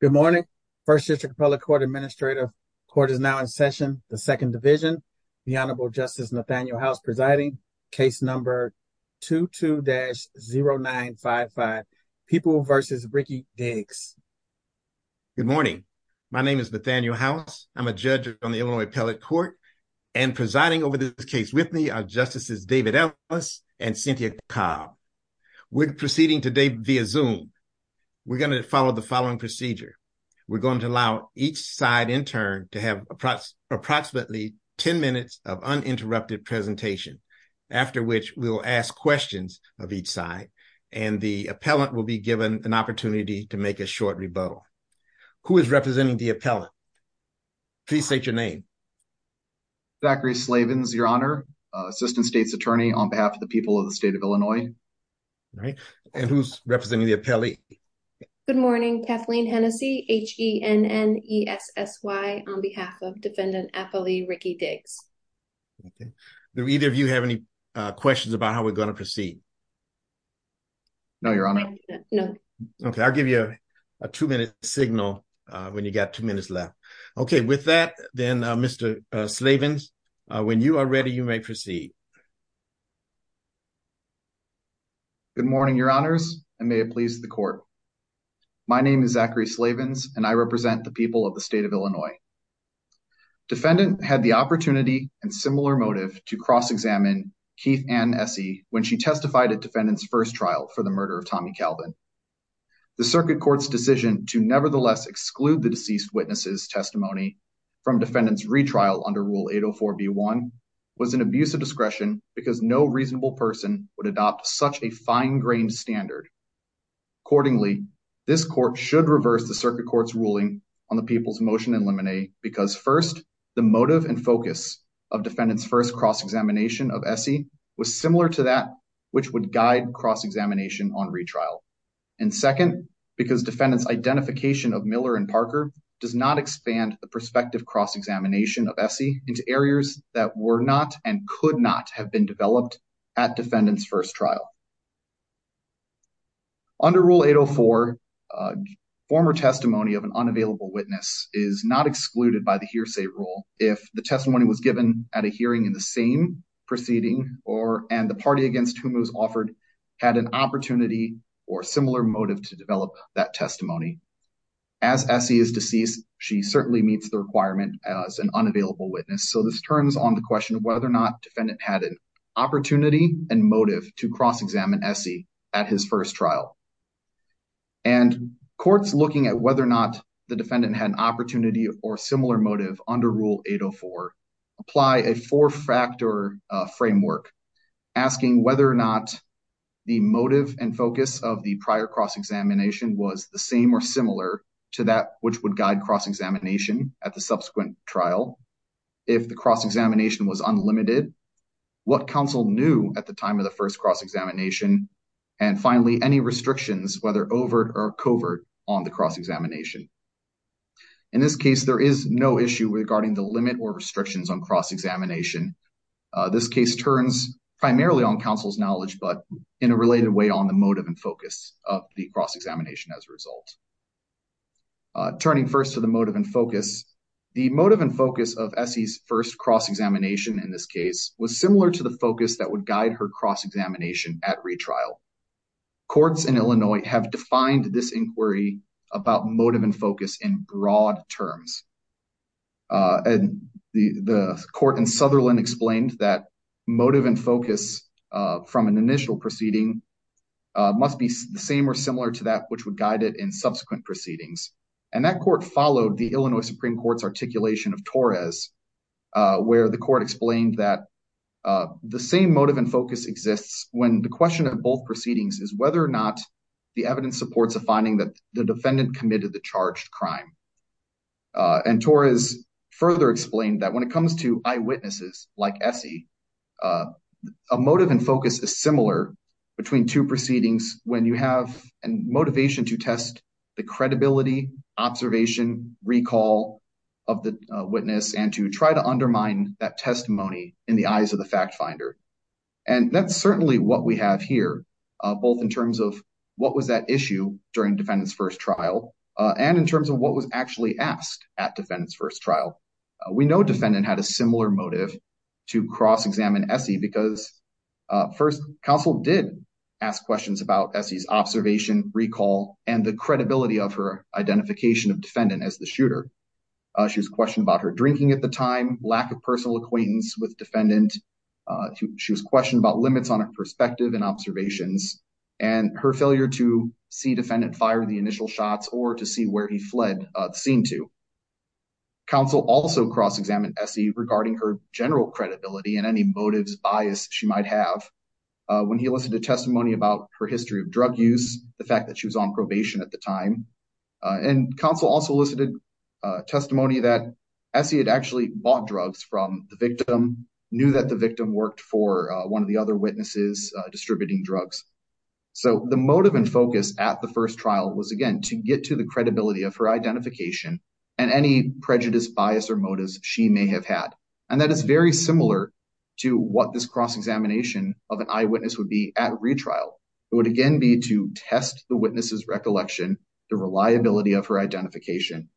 Good morning. First District Appellate Court Administrative Court is now in session, the Second Division. The Honorable Justice Nathaniel House presiding, case number 22-0955, People v. Ricky Diggs. Good morning. My name is Nathaniel House. I'm a judge on the Illinois Appellate Court, and presiding over this case with me are Justices David Ellis and Cynthia Cobb. We're proceeding today via Zoom. We're going to follow the following procedure. We're going to allow each side intern to have approximately 10 minutes of uninterrupted presentation, after which we'll ask questions of each side, and the appellant will be given an opportunity to make a short rebuttal. Who is representing the appellant? Please state your name. Zachary Slavens, Your Honor, Assistant State's Attorney on behalf of the people of the state of Illinois. And who's representing the appellee? Good morning. Kathleen Hennessey, H-E-N-N-E-S-S-Y on behalf of Defendant Appellee Ricky Diggs. Do either of you have any questions about how we're going to proceed? No, Your Honor. No. Okay. I'll give you a two-minute signal when you got two minutes left. Okay. With that, then, Mr. Slavens, when you are ready, you may proceed. Good morning, Your Honors, and may it please the Court. My name is Zachary Slavens, and I represent the people of the state of Illinois. Defendant had the opportunity and similar motive to cross-examine Keith Ann Essie when she testified at Defendant's first trial for the murder of Tommy Calvin. The Circuit Court's decision to nevertheless exclude the deceased witness's testimony from Defendant's retrial under Rule 804b1 was an abuse of discretion because no reasonable person would such a fine-grained standard. Accordingly, this Court should reverse the Circuit Court's ruling on the people's motion in limine, because first, the motive and focus of Defendant's first cross-examination of Essie was similar to that which would guide cross-examination on retrial, and second, because Defendant's identification of Miller and Parker does not expand the prospective cross-examination of Essie into areas that were not and could not have been developed at Defendant's first trial. Under Rule 804, a former testimony of an unavailable witness is not excluded by the hearsay rule if the testimony was given at a hearing in the same proceeding or and the party against whom it was offered had an opportunity or similar motive to develop that testimony. As Essie is deceased, she certainly meets the requirement as an unavailable witness. So, this turns on the question of whether or not Defendant had an opportunity and motive to cross-examine Essie at his first trial. And Courts looking at whether or not the Defendant had an opportunity or similar motive under Rule 804 apply a four-factor framework asking whether or not the motive and focus of the prior cross-examination was the same or similar to that which would guide cross-examination at the subsequent trial, if the cross-examination was unlimited, what counsel knew at the time of the first cross-examination, and finally, any restrictions whether overt or covert on the cross-examination. In this case, there is no issue regarding the limit or restrictions on cross-examination. This case turns primarily on counsel's knowledge but in a related way on the motive and focus of the cross-examination as a result. Turning first to the motive and focus, the motive and focus of Essie's first cross-examination in this case was similar to the focus that would guide her cross-examination at retrial. Courts in Illinois have defined this inquiry about motive and focus in broad terms. And the Court in Sutherland explained that motive and focus from an initial proceeding must be the same or similar to that which would guide it in subsequent proceedings. And that court followed the Illinois Supreme Court's articulation of Torres, where the court explained that the same motive and focus exists when the question of both proceedings is whether or not the evidence supports a finding that the defendant committed the charged crime. And Torres further explained that when it comes to eyewitnesses like Essie, a motive and focus is similar between two proceedings when you have motivation to test the credibility, observation, recall of the witness and to try to undermine that testimony in the eyes of the fact finder. And that's certainly what we have here, both in terms of what was that issue during defendant's first trial and in terms of what was actually asked at defendant's first trial. We know defendant had a similar motive to cross-examine Essie because first, counsel did ask questions about Essie's observation, recall, and the credibility of her identification of defendant as the shooter. She was questioned about her drinking at the time, lack of personal acquaintance with defendant. She was questioned about limits on her perspective and observations and her failure to see defendant fire the initial shots or to see where he fled seemed to. Counsel also cross-examined Essie regarding her general credibility and any motives bias she might have when he listed a testimony about her history of drug use, the fact that she was on probation at the time. And counsel also listed a testimony that Essie had actually bought drugs from the victim, knew that the victim worked for one of the other witnesses distributing drugs. So the motive and focus at the first trial was again to get to the and any prejudice bias or motives she may have had. And that is very similar to what this cross-examination of an eyewitness would be at retrial. It would again be to test the witness's recollection, the reliability of her identification.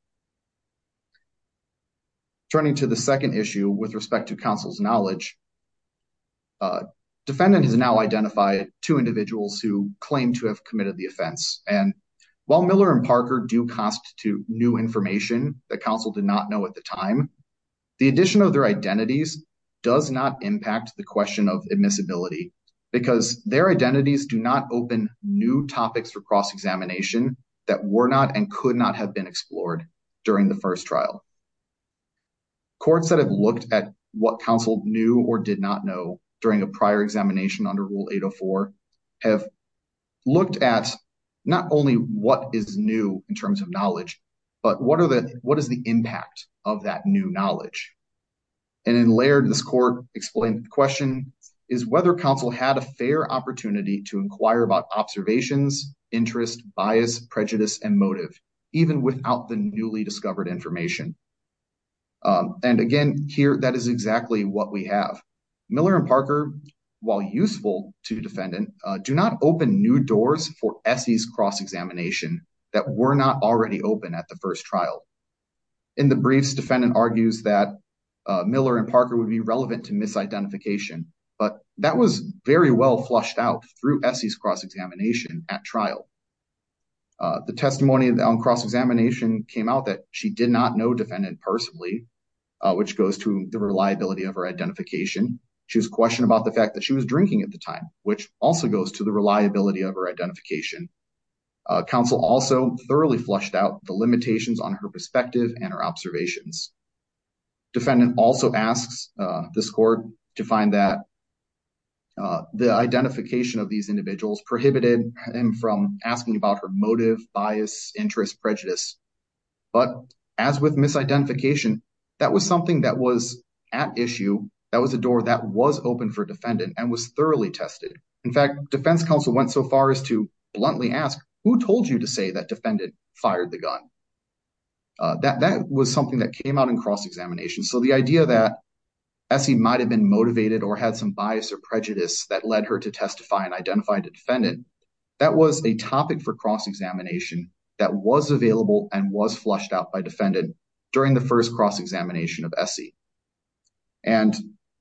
Turning to the second issue with respect to counsel's knowledge, defendant has now identified two individuals who claim to have information that counsel did not know at the time. The addition of their identities does not impact the question of admissibility because their identities do not open new topics for cross-examination that were not and could not have been explored during the first trial. Courts that have looked at what counsel knew or did not know during a prior examination under 804 have looked at not only what is new in terms of knowledge, but what is the impact of that new knowledge. And in Laird, this court explained the question is whether counsel had a fair opportunity to inquire about observations, interest, bias, prejudice, and motive, even without the newly discovered information. And again, here, that is exactly what we have. Miller and Parker, while useful to defendant, do not open new doors for Essie's cross-examination that were not already open at the first trial. In the briefs, defendant argues that Miller and Parker would be relevant to misidentification, but that was very well flushed out through Essie's cross-examination at trial. The testimony on cross-examination came out that she did not know defendant personally, which goes to the reliability of her identification. She was questioned about the fact that she was drinking at the time, which also goes to the reliability of her identification. Counsel also thoroughly flushed out the limitations on her perspective and her observations. Defendant also asks this court to find that the identification of these individuals prohibited him from asking about her motive, bias, interest, prejudice. But as with misidentification, that was something that was at issue. That was a door that was open for defendant and was thoroughly tested. In fact, defense counsel went so far as to bluntly ask, who told you to say that defendant fired the gun? That was something that came out in cross-examination. So the idea that Essie might've been motivated or had some bias or prejudice that led her to testify and identify the defendant, that was a topic for cross-examination that was available and was flushed out by defendant during the first cross-examination of Essie. And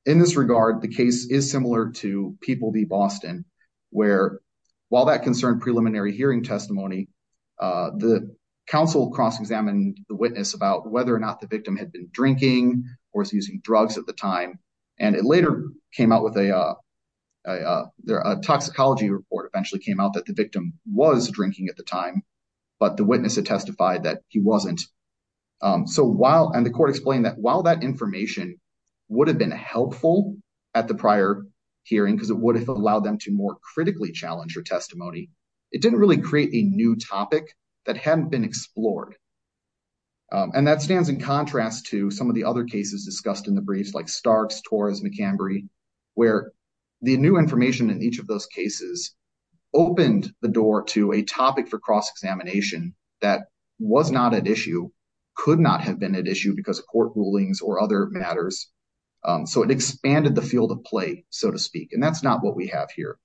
in this regard, the case is similar to People v. Boston, where while that concerned preliminary hearing testimony, the counsel cross-examined the witness about whether or not the victim had been drinking or was using drugs at the time. And it later came out with a toxicology report eventually came out that the victim was drinking at the time, but the witness had testified that he wasn't. And the court explained that while that information would have been helpful at the prior hearing, because it would have allowed them to more critically challenge her testimony, it didn't really create a new topic that hadn't been explored. And that stands in contrast to some of the other cases discussed in the briefs like Starks, Torres, McCambery, where the new topic for cross-examination that was not at issue could not have been at issue because of court rulings or other matters. So it expanded the field of play, so to speak, and that's not what we have here.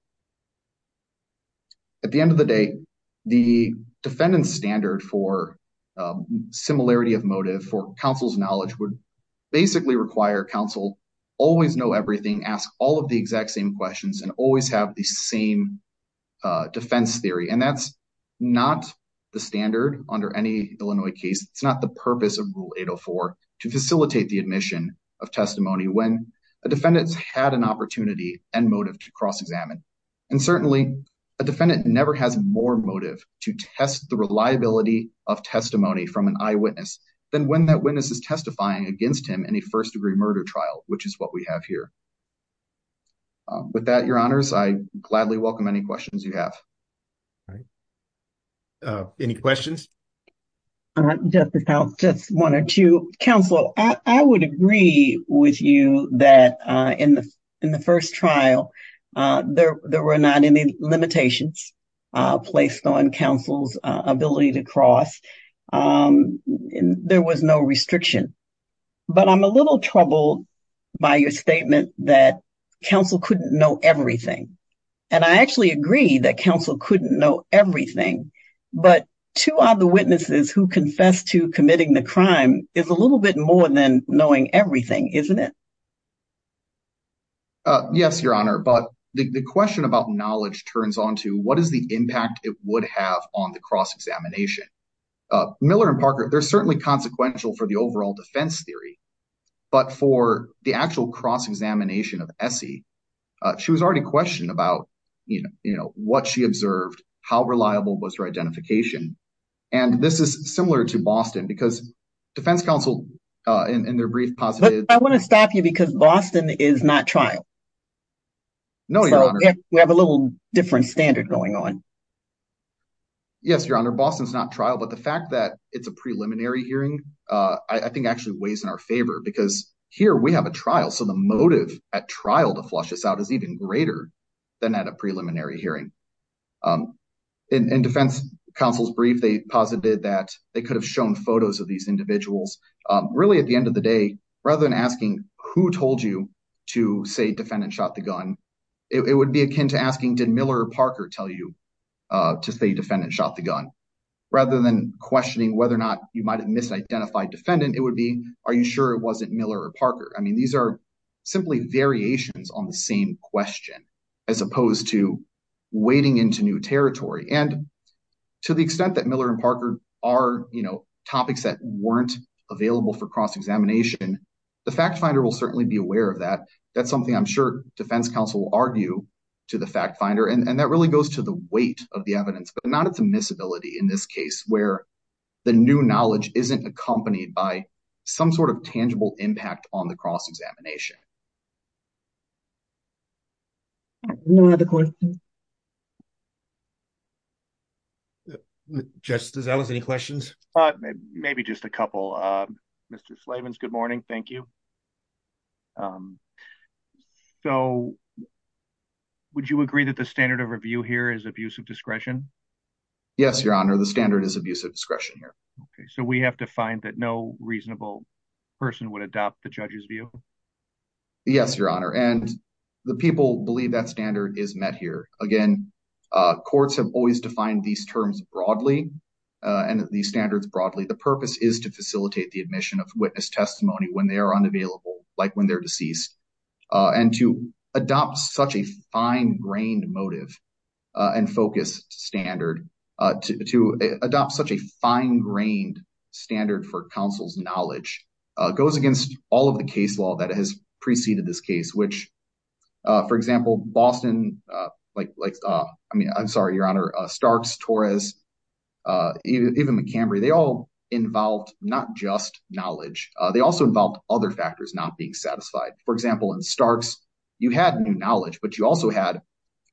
At the end of the day, the defendant's standard for similarity of motive for counsel's knowledge would basically require counsel always know everything, ask all of the exact same questions, and always have the same defense theory. And that's not the standard under any Illinois case. It's not the purpose of Rule 804 to facilitate the admission of testimony when a defendant's had an opportunity and motive to cross-examine. And certainly, a defendant never has more motive to test the reliability of testimony from an eyewitness than when that witness is testifying against him in a first-degree murder trial, which is what we have here. With that, your honors, I gladly welcome any questions you have. All right. Any questions? Just one or two. Counselor, I would agree with you that in the first trial, there were not any limitations placed on counsel's ability to cross. There was no restriction. But I'm a little troubled by your statement that counsel couldn't know everything. And I actually agree that counsel couldn't know everything, but two of the witnesses who confessed to committing the crime is a little bit more than knowing everything, isn't it? Yes, your honor. But the question about knowledge turns on to what is the impact it would have on the cross-examination. Miller and Parker, they're certainly consequential for the overall defense theory, but for the actual cross-examination of Essie, she was already questioned about what she observed, how reliable was her identification. And this is similar to Boston, because defense counsel in their brief positive... But I want to stop you because Boston is not trial. No, your honor. We have a little different standard going on. Yes, your honor. Boston's not trial, but the fact that it's a preliminary hearing, I think actually weighs in our favor, because here we have a trial. So the motive at trial to flush us out is even greater than at a preliminary hearing. In defense counsel's brief, they posited that they could have shown photos of individuals. Really, at the end of the day, rather than asking who told you to say defendant shot the gun, it would be akin to asking, did Miller or Parker tell you to say defendant shot the gun? Rather than questioning whether or not you might have misidentified defendant, it would be, are you sure it wasn't Miller or Parker? I mean, these are simply variations on the same question, as opposed to wading into new territory. And to the extent that Miller and Parker are topics that weren't available for cross-examination, the fact finder will certainly be aware of that. That's something I'm sure defense counsel will argue to the fact finder. And that really goes to the weight of the evidence, but not at the miscibility in this case, where the new knowledge isn't accompanied by some sort of tangible impact on the cross-examination. No other questions? Justice Ellis, any questions? Maybe just a couple. Mr. Slavens, good morning. Thank you. So, would you agree that the standard of review here is abuse of discretion? Yes, your honor. The standard is abuse of discretion here. Okay, so we have to find that no reasonable person would adopt the judge's view? Yes, your honor. And the people believe that is met here. Again, courts have always defined these terms broadly and these standards broadly. The purpose is to facilitate the admission of witness testimony when they are unavailable, like when they're deceased. And to adopt such a fine-grained motive and focus standard, to adopt such a fine-grained standard for counsel's knowledge, goes against all of the case law that has preceded this case, which, for example, Boston, like, I mean, I'm sorry, your honor, Starks, Torres, even Montgomery, they all involved not just knowledge. They also involved other factors not being satisfied. For example, in Starks, you had new knowledge, but you also had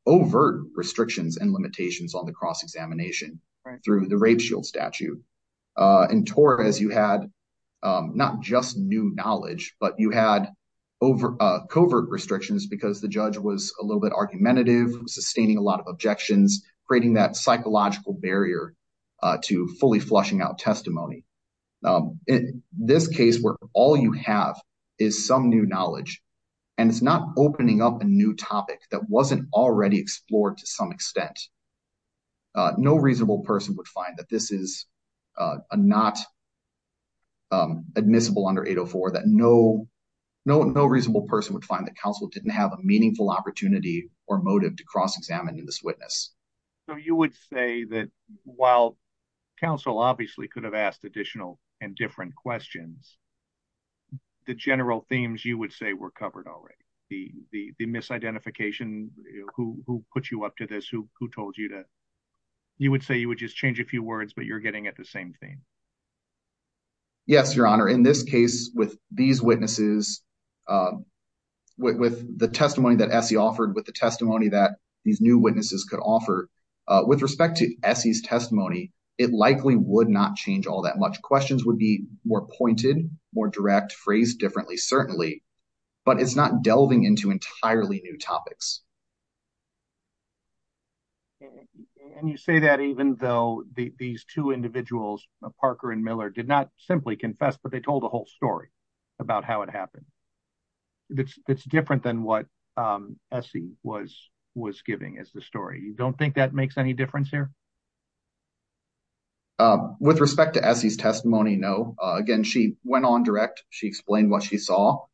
overt restrictions and limitations on the cross-examination through the rape shield statute. In Torres, you had not just new knowledge, but you had covert restrictions because the judge was a little bit argumentative, sustaining a lot of objections, creating that psychological barrier to fully flushing out testimony. In this case where all you have is some new knowledge, and it's not opening up a new topic that wasn't already explored to some not admissible under 804, that no reasonable person would find that counsel didn't have a meaningful opportunity or motive to cross-examine in this witness. So you would say that while counsel obviously could have asked additional and different questions, the general themes you would say were covered already. The misidentification, who put you up to this, who told you to, you would say you would just change a few words, but you're getting at the same thing. Yes, Your Honor. In this case with these witnesses, with the testimony that Essie offered, with the testimony that these new witnesses could offer, with respect to Essie's testimony, it likely would not change all that much. Questions would be more pointed, more direct, phrased differently certainly, but it's not delving into entirely new topics. And you say that even though these two individuals, Parker and Miller, did not simply confess, but they told a whole story about how it happened. It's different than what Essie was giving as the story. You don't think that makes any difference here? With respect to Essie's testimony, no. Again, she went on direct. She explained what she saw.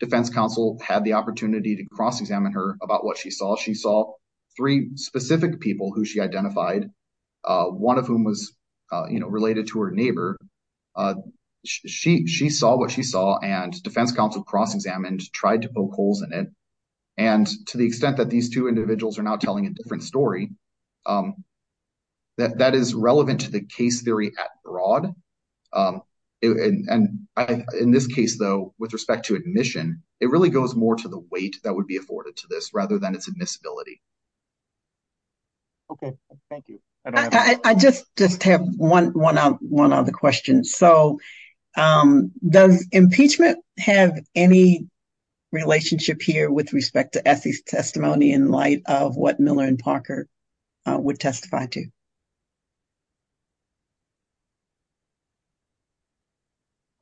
Defense counsel had the opportunity to cross-examine her about what she saw. She saw three specific people who she identified, one of whom was related to her neighbor. She saw what she saw, and defense counsel cross-examined, tried to poke holes in it. And to the extent that these two individuals are now telling a different story, that is relevant to the case theory at broad. In this case, though, with respect to admission, it really goes more to the weight that would be afforded to this rather than its admissibility. Okay. Thank you. I just have one other question. So, does impeachment have any relationship here with respect to Essie's testimony in light of what Miller and Parker would testify to?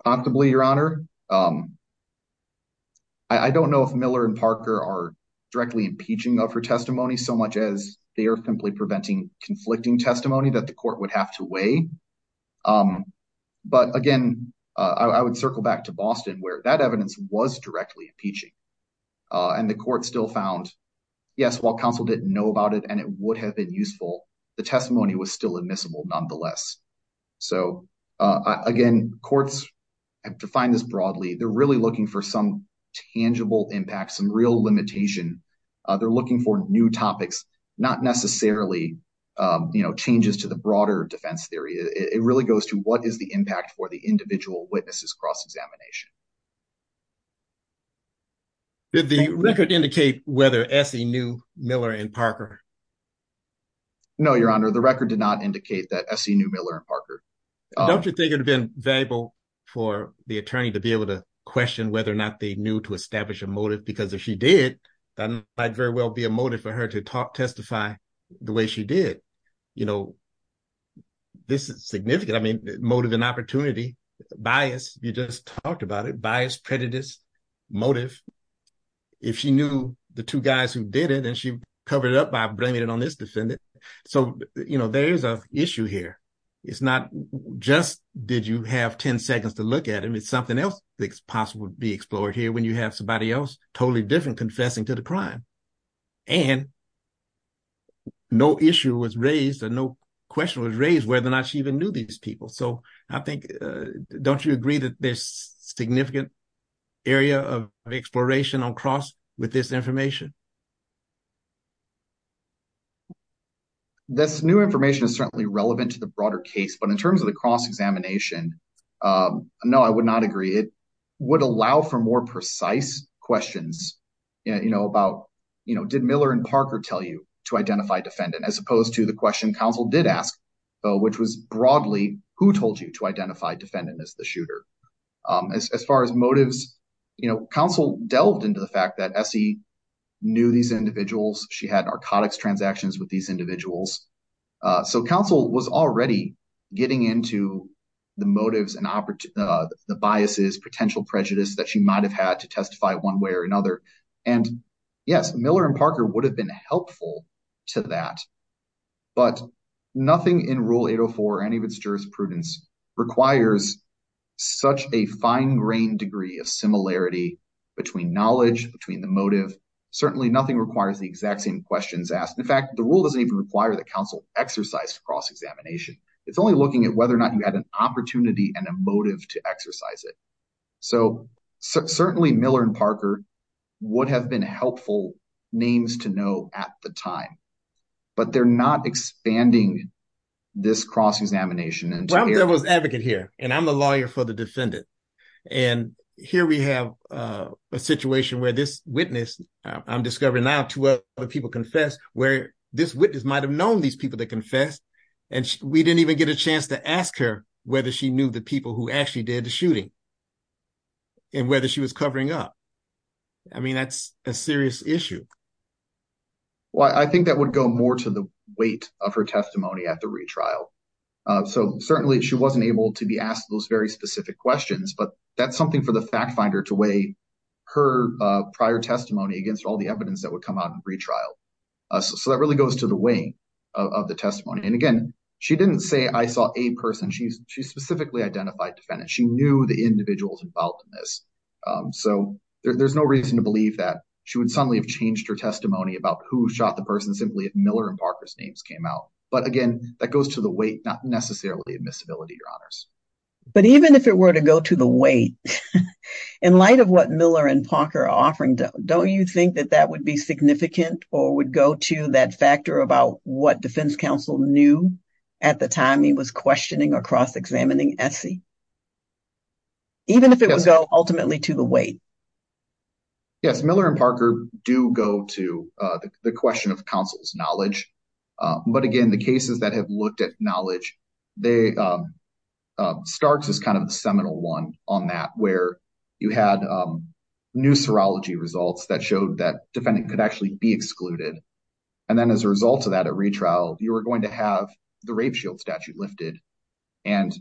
Notably, Your Honor, I don't know if Miller and Parker are directly impeaching of her testimony so much as they are simply preventing conflicting testimony that the court would have to weigh. But again, I would circle back to Boston where that evidence was directly impeaching, and the court still found, yes, while counsel didn't know about it and it would have been nonetheless. So, again, courts have defined this broadly. They're really looking for some tangible impact, some real limitation. They're looking for new topics, not necessarily changes to the broader defense theory. It really goes to what is the impact for the individual witnesses cross-examination. Did the record indicate whether Essie knew Miller and Parker? No, Your Honor. The record did not indicate that Essie knew Miller and Parker. Don't you think it would have been valuable for the attorney to be able to question whether or not they knew to establish a motive? Because if she did, that might very well be a motive for her to talk, testify the way she did. This is significant. I mean, motive and opportunity, bias, you just talked about it, bias, prejudice, motive. If she knew the two guys who did it and she covered it up by blaming it on this defendant. So, there is an issue here. It's not just, did you have 10 seconds to look at him? It's something else that's possible to be explored here when you have somebody else totally different confessing to the crime. And no issue was raised or no question was raised whether or not she even knew these people. So, I think, don't you agree that there's significant area of exploration on cross with this case? This new information is certainly relevant to the broader case, but in terms of the cross-examination, no, I would not agree. It would allow for more precise questions about, did Miller and Parker tell you to identify defendant as opposed to the question counsel did ask, which was broadly, who told you to identify defendant as the shooter? As far as motives, counsel delved into the fact that Essie knew these individuals. She had narcotics transactions with these individuals. So, counsel was already getting into the motives and the biases, potential prejudice that she might've had to testify one way or another. And yes, Miller and Parker would have been helpful to that, but nothing in rule 804 or any of its jurisprudence requires such a fine-grained degree of similarity between knowledge, between the motive. Certainly nothing requires the exact same questions asked. In fact, the rule doesn't even require that counsel exercise cross-examination. It's only looking at whether or not you had an opportunity and a motive to exercise it. So, certainly Miller and Parker would have been helpful names to know at the time, but they're not expanding this cross-examination. Well, I'm the devil's advocate here and I'm the lawyer for the defendant. And here we have a situation where this witness, I'm discovering now two other people confessed, where this witness might've known these people that confessed and we didn't even get a chance to ask her whether she knew the people who actually did the shooting and whether she was covering up. I mean, that's a serious issue. Well, I think that would go more to the weight of her testimony at the retrial. So, certainly she wasn't able to be asked those very specific questions, but that's something for the fact finder to weigh her prior testimony against all the evidence that would come out in retrial. So, that really goes to the weight of the testimony. And again, she didn't say I saw a person. She specifically identified defendants. She knew the individuals involved in this. So, there's no reason to believe that she would suddenly have changed her testimony about who Miller and Parker's names came out. But again, that goes to the weight, not necessarily admissibility, your honors. But even if it were to go to the weight, in light of what Miller and Parker are offering, don't you think that that would be significant or would go to that factor about what defense counsel knew at the time he was questioning or cross-examining Essie? Even if it would go ultimately to the weight. Yes, Miller and Parker do go to the question of counsel's knowledge. But again, the cases that have looked at knowledge, Starks is kind of a seminal one on that where you had new serology results that showed that defendant could actually be excluded. And then as a result of that at retrial, you were going to have the rape shield statute lifted and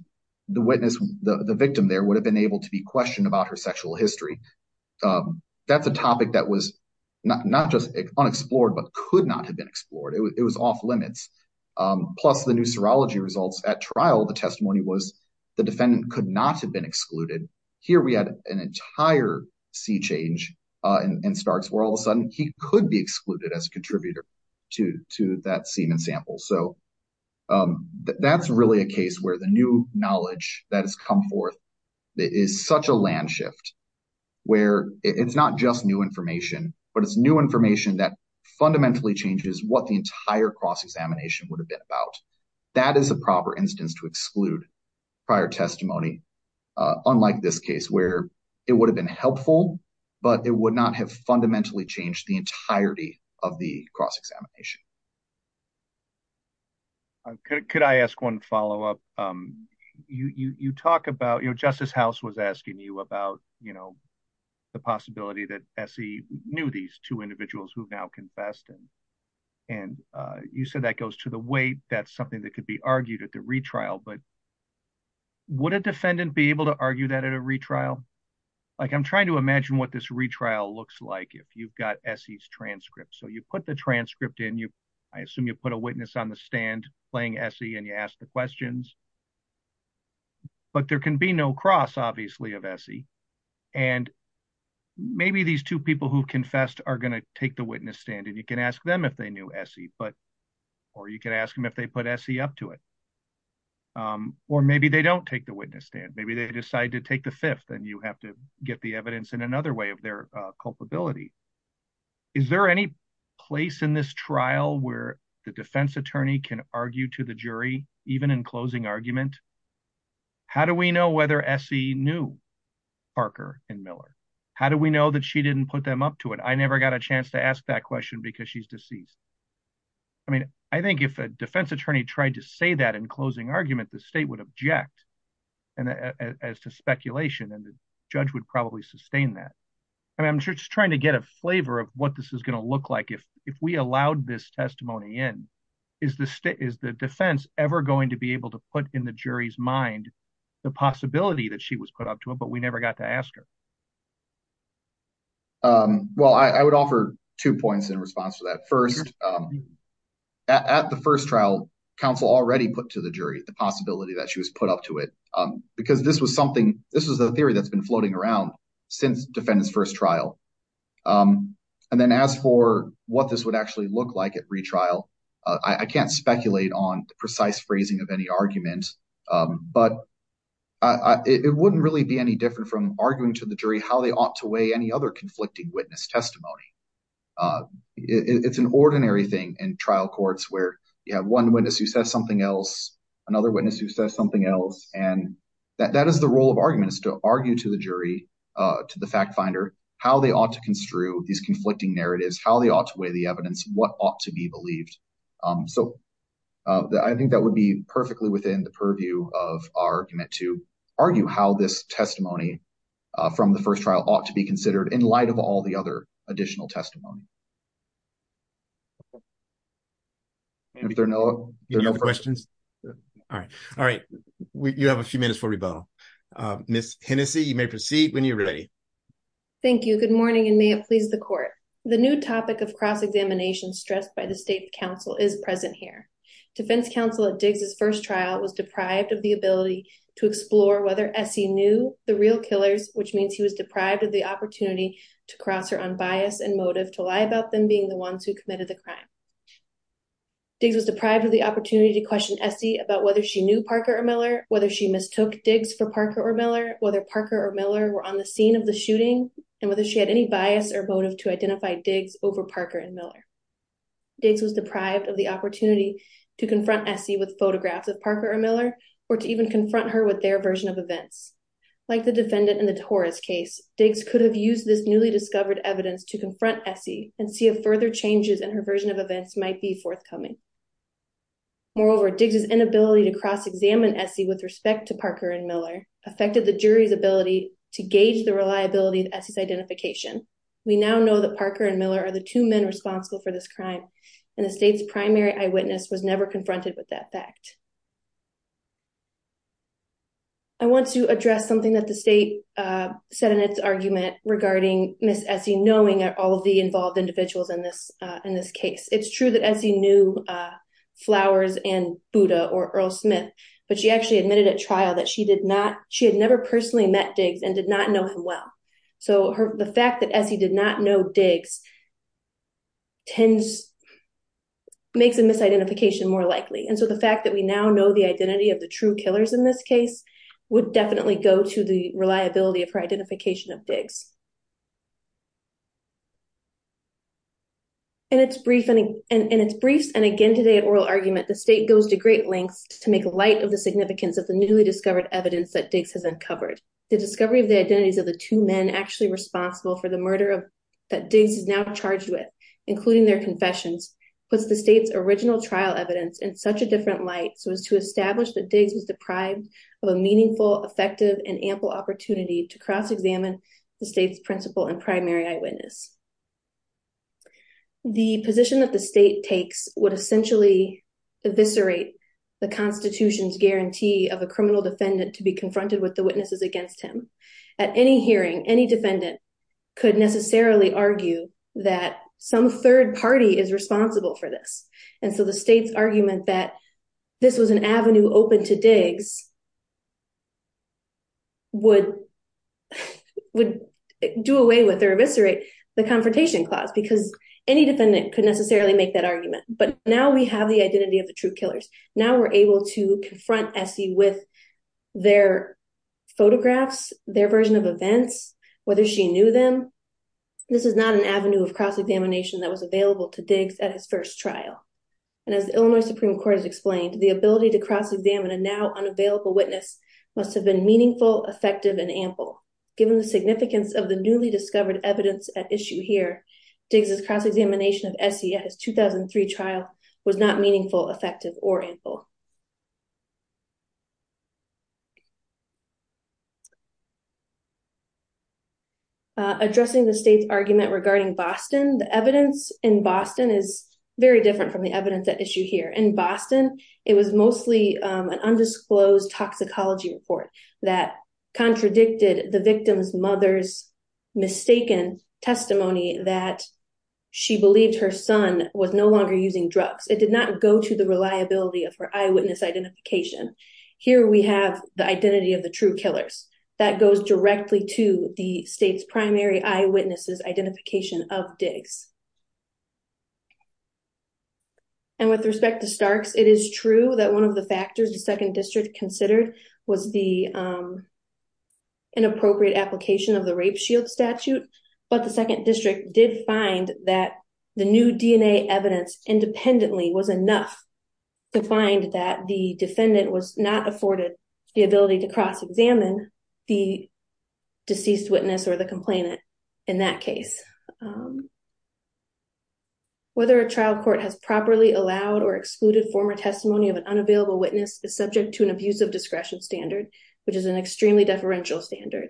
the witness, the victim there would have been able to be not just unexplored, but could not have been explored. It was off limits. Plus the new serology results at trial, the testimony was the defendant could not have been excluded. Here we had an entire sea change in Starks where all of a sudden he could be excluded as a contributor to that semen sample. So, that's really a case where the new knowledge that has come forth is such a land shift where it's not just new information, but it's new information that fundamentally changes what the entire cross-examination would have been about. That is a proper instance to exclude prior testimony. Unlike this case where it would have been helpful, but it would not have fundamentally changed the entirety of the cross-examination. Could I ask one follow-up? Justice House was asking you about the possibility that S.E. knew these two individuals who've now confessed and you said that goes to the weight, that's something that could be argued at the retrial, but would a defendant be able to argue that at a retrial? I'm trying to imagine what this retrial looks like if you've got S.E.'s transcript. So, you put the transcript in, I assume you put a witness on the stand playing S.E. and you ask the questions, but there can be no cross obviously of S.E. and maybe these two people who confessed are going to take the witness stand and you can ask them if they knew S.E., or you can ask them if they put S.E. up to it, or maybe they don't take the witness stand. Maybe they decide to take the fifth and you have to get the evidence in another way of their culpability. Is there any place in this trial where the defense attorney can argue to the jury, even in closing argument? How do we know whether S.E. knew Parker and Miller? How do we know that she didn't put them up to it? I never got a chance to ask that question because she's deceased. I mean, I think if a defense attorney tried to say that in closing argument, the state would object and as to speculation and the judge would probably sustain that. I mean, I'm just trying to get a flavor of what this is going to look like if we allowed this testimony in. Is the defense ever going to be able to put in the jury's mind the possibility that she was put up to it, but we never got to ask her? Well, I would offer two points in response to that. First, at the first trial, counsel already put to the jury the possibility that she was put up to it because this was the theory that's been floating around since defendant's first trial. And then as for what this would actually look like at retrial, I can't speculate on the precise phrasing of any argument, but it wouldn't really be any different from arguing to the jury how they ought to weigh any other conflicting witness testimony. It's an ordinary thing in trial courts where you have one witness who says something else, another witness who says something else, and that is the role of argument is to argue to the jury, to the fact finder, how they ought to construe these conflicting narratives, how they ought to weigh the evidence, what ought to be believed. So I think that would be perfectly within the purview of our argument to argue how this testimony from the first trial ought to be considered in light of all the other testimonies. If there are no questions, all right. All right. You have a few minutes for rebuttal. Ms. Hennessey, you may proceed when you're ready. Thank you. Good morning, and may it please the court. The new topic of cross-examination stressed by the state counsel is present here. Defense counsel at Diggs' first trial was deprived of the ability to explore whether Essie knew the real killers, which means he was deprived of the opportunity to cross her on bias and motive to lie about them being the ones who committed the crime. Diggs was deprived of the opportunity to question Essie about whether she knew Parker or Miller, whether she mistook Diggs for Parker or Miller, whether Parker or Miller were on the scene of the shooting, and whether she had any bias or motive to identify Diggs over Parker and Miller. Diggs was deprived of the opportunity to confront Essie with photographs of Parker or Miller or to even confront her with their version of events, like the defendant in the Torres case. Diggs could have used this newly discovered evidence to confront Essie and see if further changes in her version of events might be forthcoming. Moreover, Diggs' inability to cross-examine Essie with respect to Parker and Miller affected the jury's ability to gauge the reliability of Essie's identification. We now know that Parker and Miller are the two men responsible for this crime, and the state's primary eyewitness was never confronted with that fact. I want to address something that the state said in its argument regarding Ms. Essie knowing all of the involved individuals in this case. It's true that Essie knew Flowers and Buda or Earl Smith, but she actually admitted at trial that she had never personally met Diggs and did not know him well. So, the fact that Essie did not know Diggs makes a misidentification more likely. And so, the fact that we now know the identity of the true killers in this case would definitely go to the reliability of her identification of Diggs. In its briefs and again today at oral argument, the state goes to great lengths to make light of the significance of the newly discovered evidence that Diggs has uncovered. The discovery of the identities of the two men actually responsible for the murder that Diggs is now charged with, including their confessions, puts the state's original trial evidence in such a different light so as to establish that Diggs was deprived of a meaningful, effective, and ample opportunity to cross-examine the state's principal and primary eyewitness. The position that the state takes would essentially eviscerate the Constitution's guarantee of a criminal defendant to be confronted with the witnesses against him. At any hearing, any defendant could necessarily argue that some third party is responsible for this. And so, the state's argument that this was an avenue open to Diggs would do away with or eviscerate the Confrontation Clause because any defendant could necessarily make that argument. But now we have the identity of the true killers. Now we're able to confront Essie with their photographs, their version of events, whether she knew them. This is not an avenue of cross-examination that was available to Diggs at his first trial. And as the Illinois Supreme Court has explained, the ability to cross-examine a now unavailable witness must have been meaningful, effective, and ample. Given the significance of the newly discovered evidence at issue here, Diggs' cross-examination of Essie at his 2003 trial was not meaningful, effective, or ample. Addressing the state's argument regarding Boston, the evidence in Boston is very different from the evidence at issue here. In Boston, it was mostly an undisclosed toxicology report that contradicted the victim's mother's mistaken testimony that she believed her son was no longer using drugs. It did not go to the reliability of her eyewitness identification. Here we have the identity of the true killers. That goes directly to the state's primary eyewitnesses' identification of Diggs. And with respect to Starks, it is true that one of the factors the 2nd District considered was the inappropriate application of the Rape Shield Statute. But the 2nd District did find that the new DNA evidence independently was enough to find that the defendant was not afforded the ability to cross-examine the deceased witness or the complainant in that case. Whether a trial court has properly allowed or excluded former testimony of an unavailable witness is subject to an abusive discretion standard, which is an extremely deferential standard.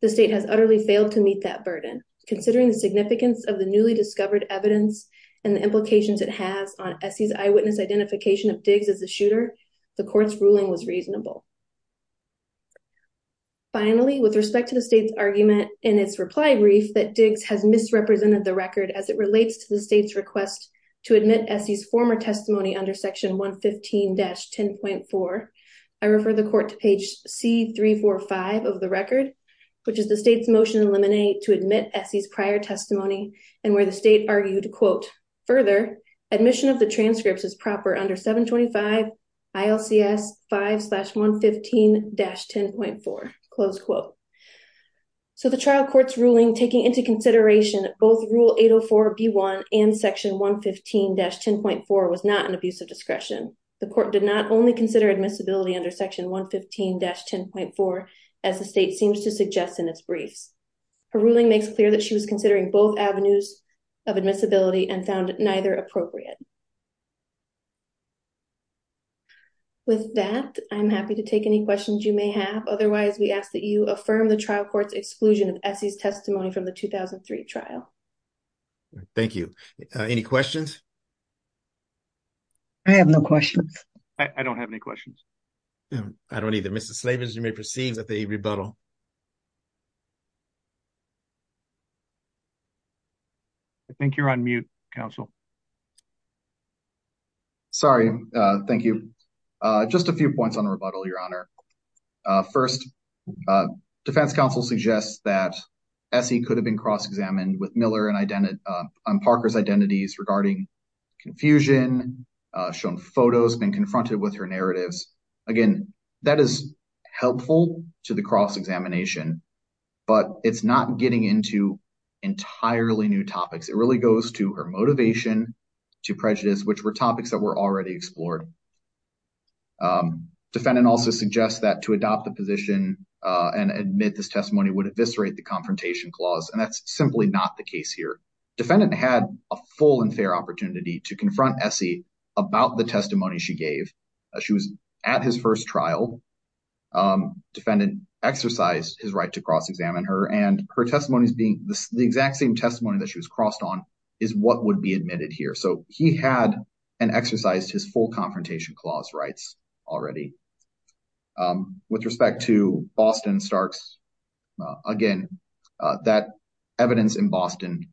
The state has utterly failed to meet that burden. Considering the significance of newly discovered evidence and the implications it has on Essie's eyewitness identification of Diggs as a shooter, the court's ruling was reasonable. Finally, with respect to the state's argument in its reply brief that Diggs has misrepresented the record as it relates to the state's request to admit Essie's former testimony under Section 115-10.4, I refer the court to page C-345 of the record, which is the state's motion in limine to admit Essie's prior testimony and where the state argued, quote, further, admission of the transcripts is proper under 725 ILCS 5-115-10.4, close quote. So the trial court's ruling taking into consideration both Rule 804-B1 and Section 115-10.4 was not an abusive discretion. The court did not only consider admissibility under Section 115-10.4 as the state seems to suggest in its briefs. Her ruling makes clear that she was considering both avenues of admissibility and found neither appropriate. With that, I'm happy to take any questions you may have. Otherwise, we ask that you affirm the trial court's exclusion of Essie's testimony from the 2003 trial. Thank you. Any questions? I have no questions. I don't have any questions. I don't either. Mrs. Slavens, you may perceive that the rebuttal is on mute. I think you're on mute, counsel. Sorry. Thank you. Just a few points on rebuttal, Your Honor. First, defense counsel suggests that Essie could have been cross-examined with Miller on Parker's identities regarding confusion, shown photos, been confronted with her narratives. Again, that is helpful to the entirely new topics. It really goes to her motivation, to prejudice, which were topics that were already explored. Defendant also suggests that to adopt the position and admit this testimony would eviscerate the confrontation clause, and that's simply not the case here. Defendant had a full and fair opportunity to confront Essie about the testimony she gave. She was at his first trial. Defendant exercised his right to cross-examine her, and her testimony is being the exact same testimony that she was crossed on is what would be admitted here. He had and exercised his full confrontation clause rights already. With respect to Boston Starks, again, that evidence in Boston,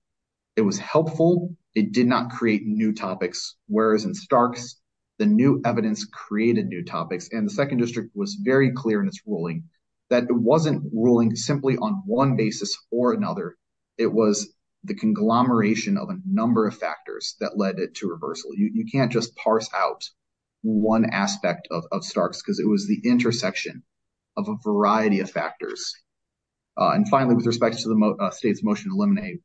it was helpful. It did not create new topics, whereas in Starks, the new evidence created new topics, and the second district was very clear in its ruling that it wasn't ruling simply on one basis or another. It was the conglomeration of a number of factors that led it to reversal. You can't just parse out one aspect of Starks because it was the intersection of a variety of factors. Finally, with respect to the state's motion to eliminate,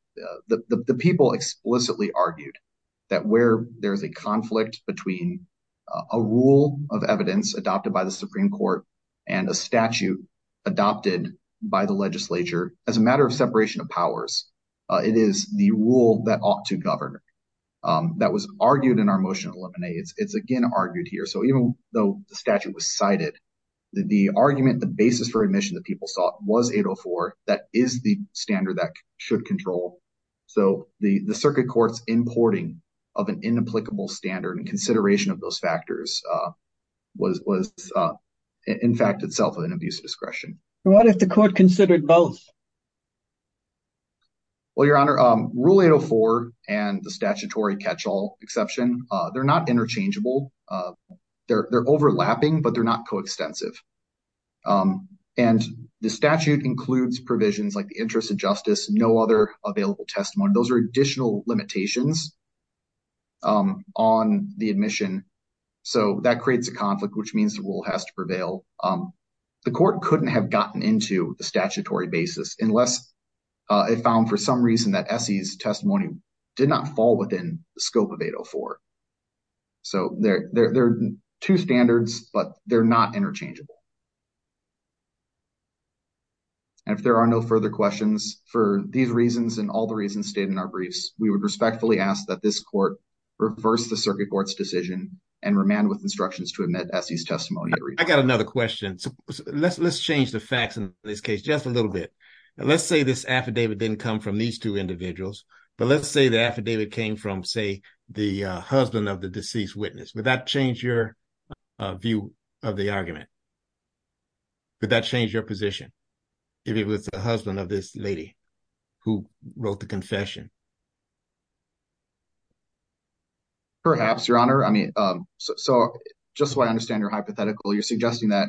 the people explicitly argued that where there's a conflict between a rule of evidence adopted by the Supreme Court and a statute adopted by the legislature as a matter of separation of powers, it is the rule that ought to govern. That was argued in our motion to eliminate. It's again argued here, so even though the statute was cited, the argument, the basis for admission that people was 804, that is the standard that should control, so the circuit court's importing of an inapplicable standard and consideration of those factors was in fact itself an abuse discretion. What if the court considered both? Well, Your Honor, Rule 804 and the statutory catch-all exception, they're not interchangeable. They're overlapping, but they're not coextensive, and the statute includes provisions like the interest of justice, no other available testimony. Those are additional limitations on the admission, so that creates a conflict, which means the rule has to prevail. The court couldn't have gotten into the statutory basis unless it found for some reason that ESE's testimony did not fall within the scope of 804. So, they're two standards, but they're not interchangeable, and if there are no further questions for these reasons and all the reasons stated in our briefs, we would respectfully ask that this court reverse the circuit court's decision and remand with instructions to admit ESE's testimony. I got another question. Let's change the facts in this case just a little bit. Let's say this affidavit didn't come from these two individuals, but let's say the affidavit came from, say, the husband of the deceased witness. Would that change your view of the argument? Would that change your position if it was the husband of this lady who wrote the confession? Perhaps, Your Honor. I mean, so just so I understand your hypothetical, you're suggesting that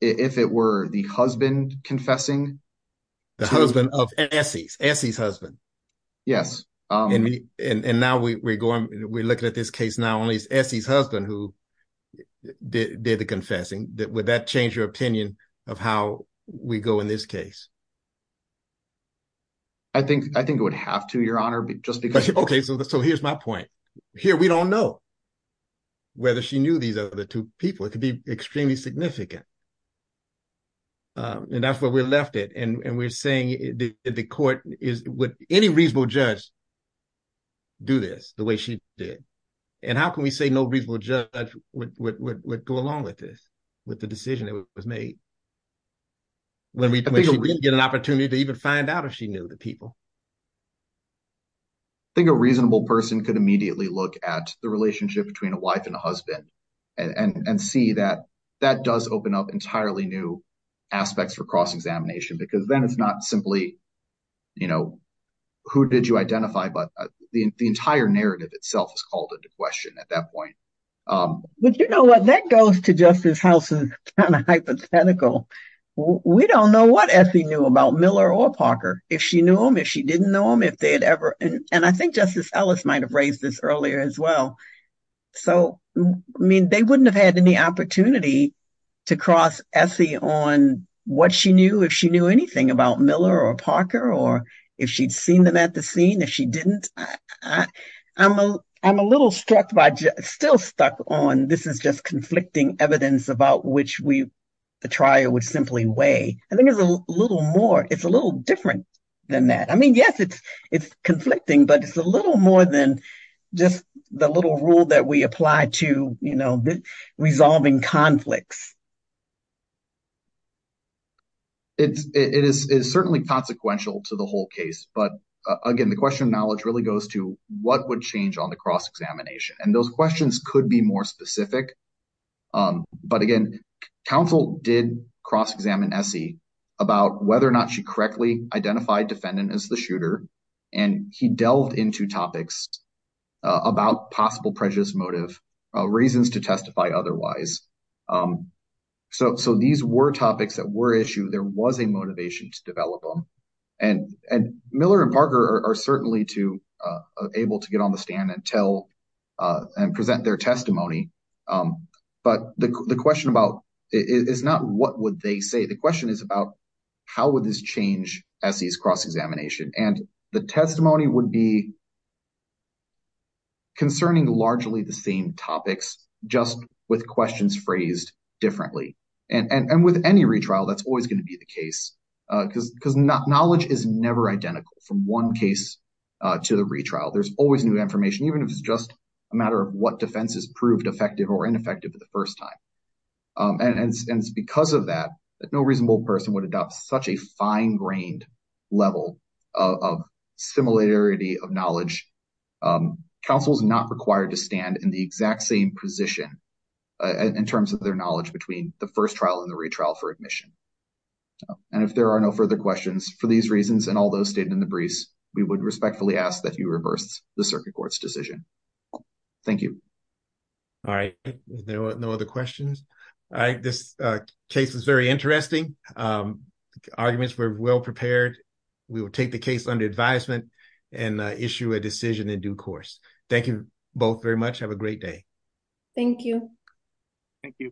if it were the husband confessing? The husband of ESE, ESE's husband. Yes. And now we're looking at this case, not only ESE's husband who did the confessing, would that change your opinion of how we go in this case? I think it would have to, Your Honor. Okay, so here's my point. Here, we don't know whether she knew these other two people. It could be extremely significant. And that's where we left it. And we're saying the court is, would any reasonable judge do this the way she did? And how can we say no reasonable judge would go along with this, with the decision that was made when we didn't get an opportunity to even find out if she knew the wife and the husband? And see that that does open up entirely new aspects for cross-examination, because then it's not simply, you know, who did you identify? But the entire narrative itself is called into question at that point. But you know what, that goes to Justice House's kind of hypothetical. We don't know what ESE knew about Miller or Parker. If she knew him, if she didn't know him, if they had ever, and I think Justice Ellis might have raised this earlier as well. So, I mean, they wouldn't have had any opportunity to cross ESE on what she knew, if she knew anything about Miller or Parker, or if she'd seen them at the scene, if she didn't. I'm a little struck by, still stuck on, this is just conflicting evidence about which we, the trial would simply weigh. I think it's a little more, it's a little different than that. I mean, yes, it's conflicting, but it's a little more than just the little rule that we apply to, you know, resolving conflicts. It is certainly consequential to the whole case. But again, the question of knowledge really goes to what would change on the cross-examination? And those questions could be more specific. But again, counsel did cross-examine ESE about whether or not she correctly identified defendant as the shooter. And he delved into topics about possible prejudice motive, reasons to testify otherwise. So, these were topics that were issued. There was a motivation to develop them. And Miller and Parker are certainly able to get on the stand and present their testimony. But the question about, it's not what would they say, the question is about how would this change ESE's cross-examination? And the testimony would be concerning largely the same topics, just with questions phrased differently. And with any retrial, that's always going to be the case, because knowledge is never identical from one case to the retrial. There's always new information, even if it's just a matter of what defenses proved effective or ineffective at the first time. And it's because of that, that no reasonable person would adopt such a fine-grained level of similarity of knowledge. Counsel is not required to stand in the exact same position in terms of their knowledge between the first trial and the retrial for admission. And if there are no further questions for these reasons and all those stated in the briefs, we would respectfully ask that you reverse the circuit court's decision. Thank you. All right. No other questions? All right. This case was very interesting. Arguments were well prepared. We will take the case under advisement and issue a decision in due course. Thank you both very much. Have a great day. Thank you. Thank you.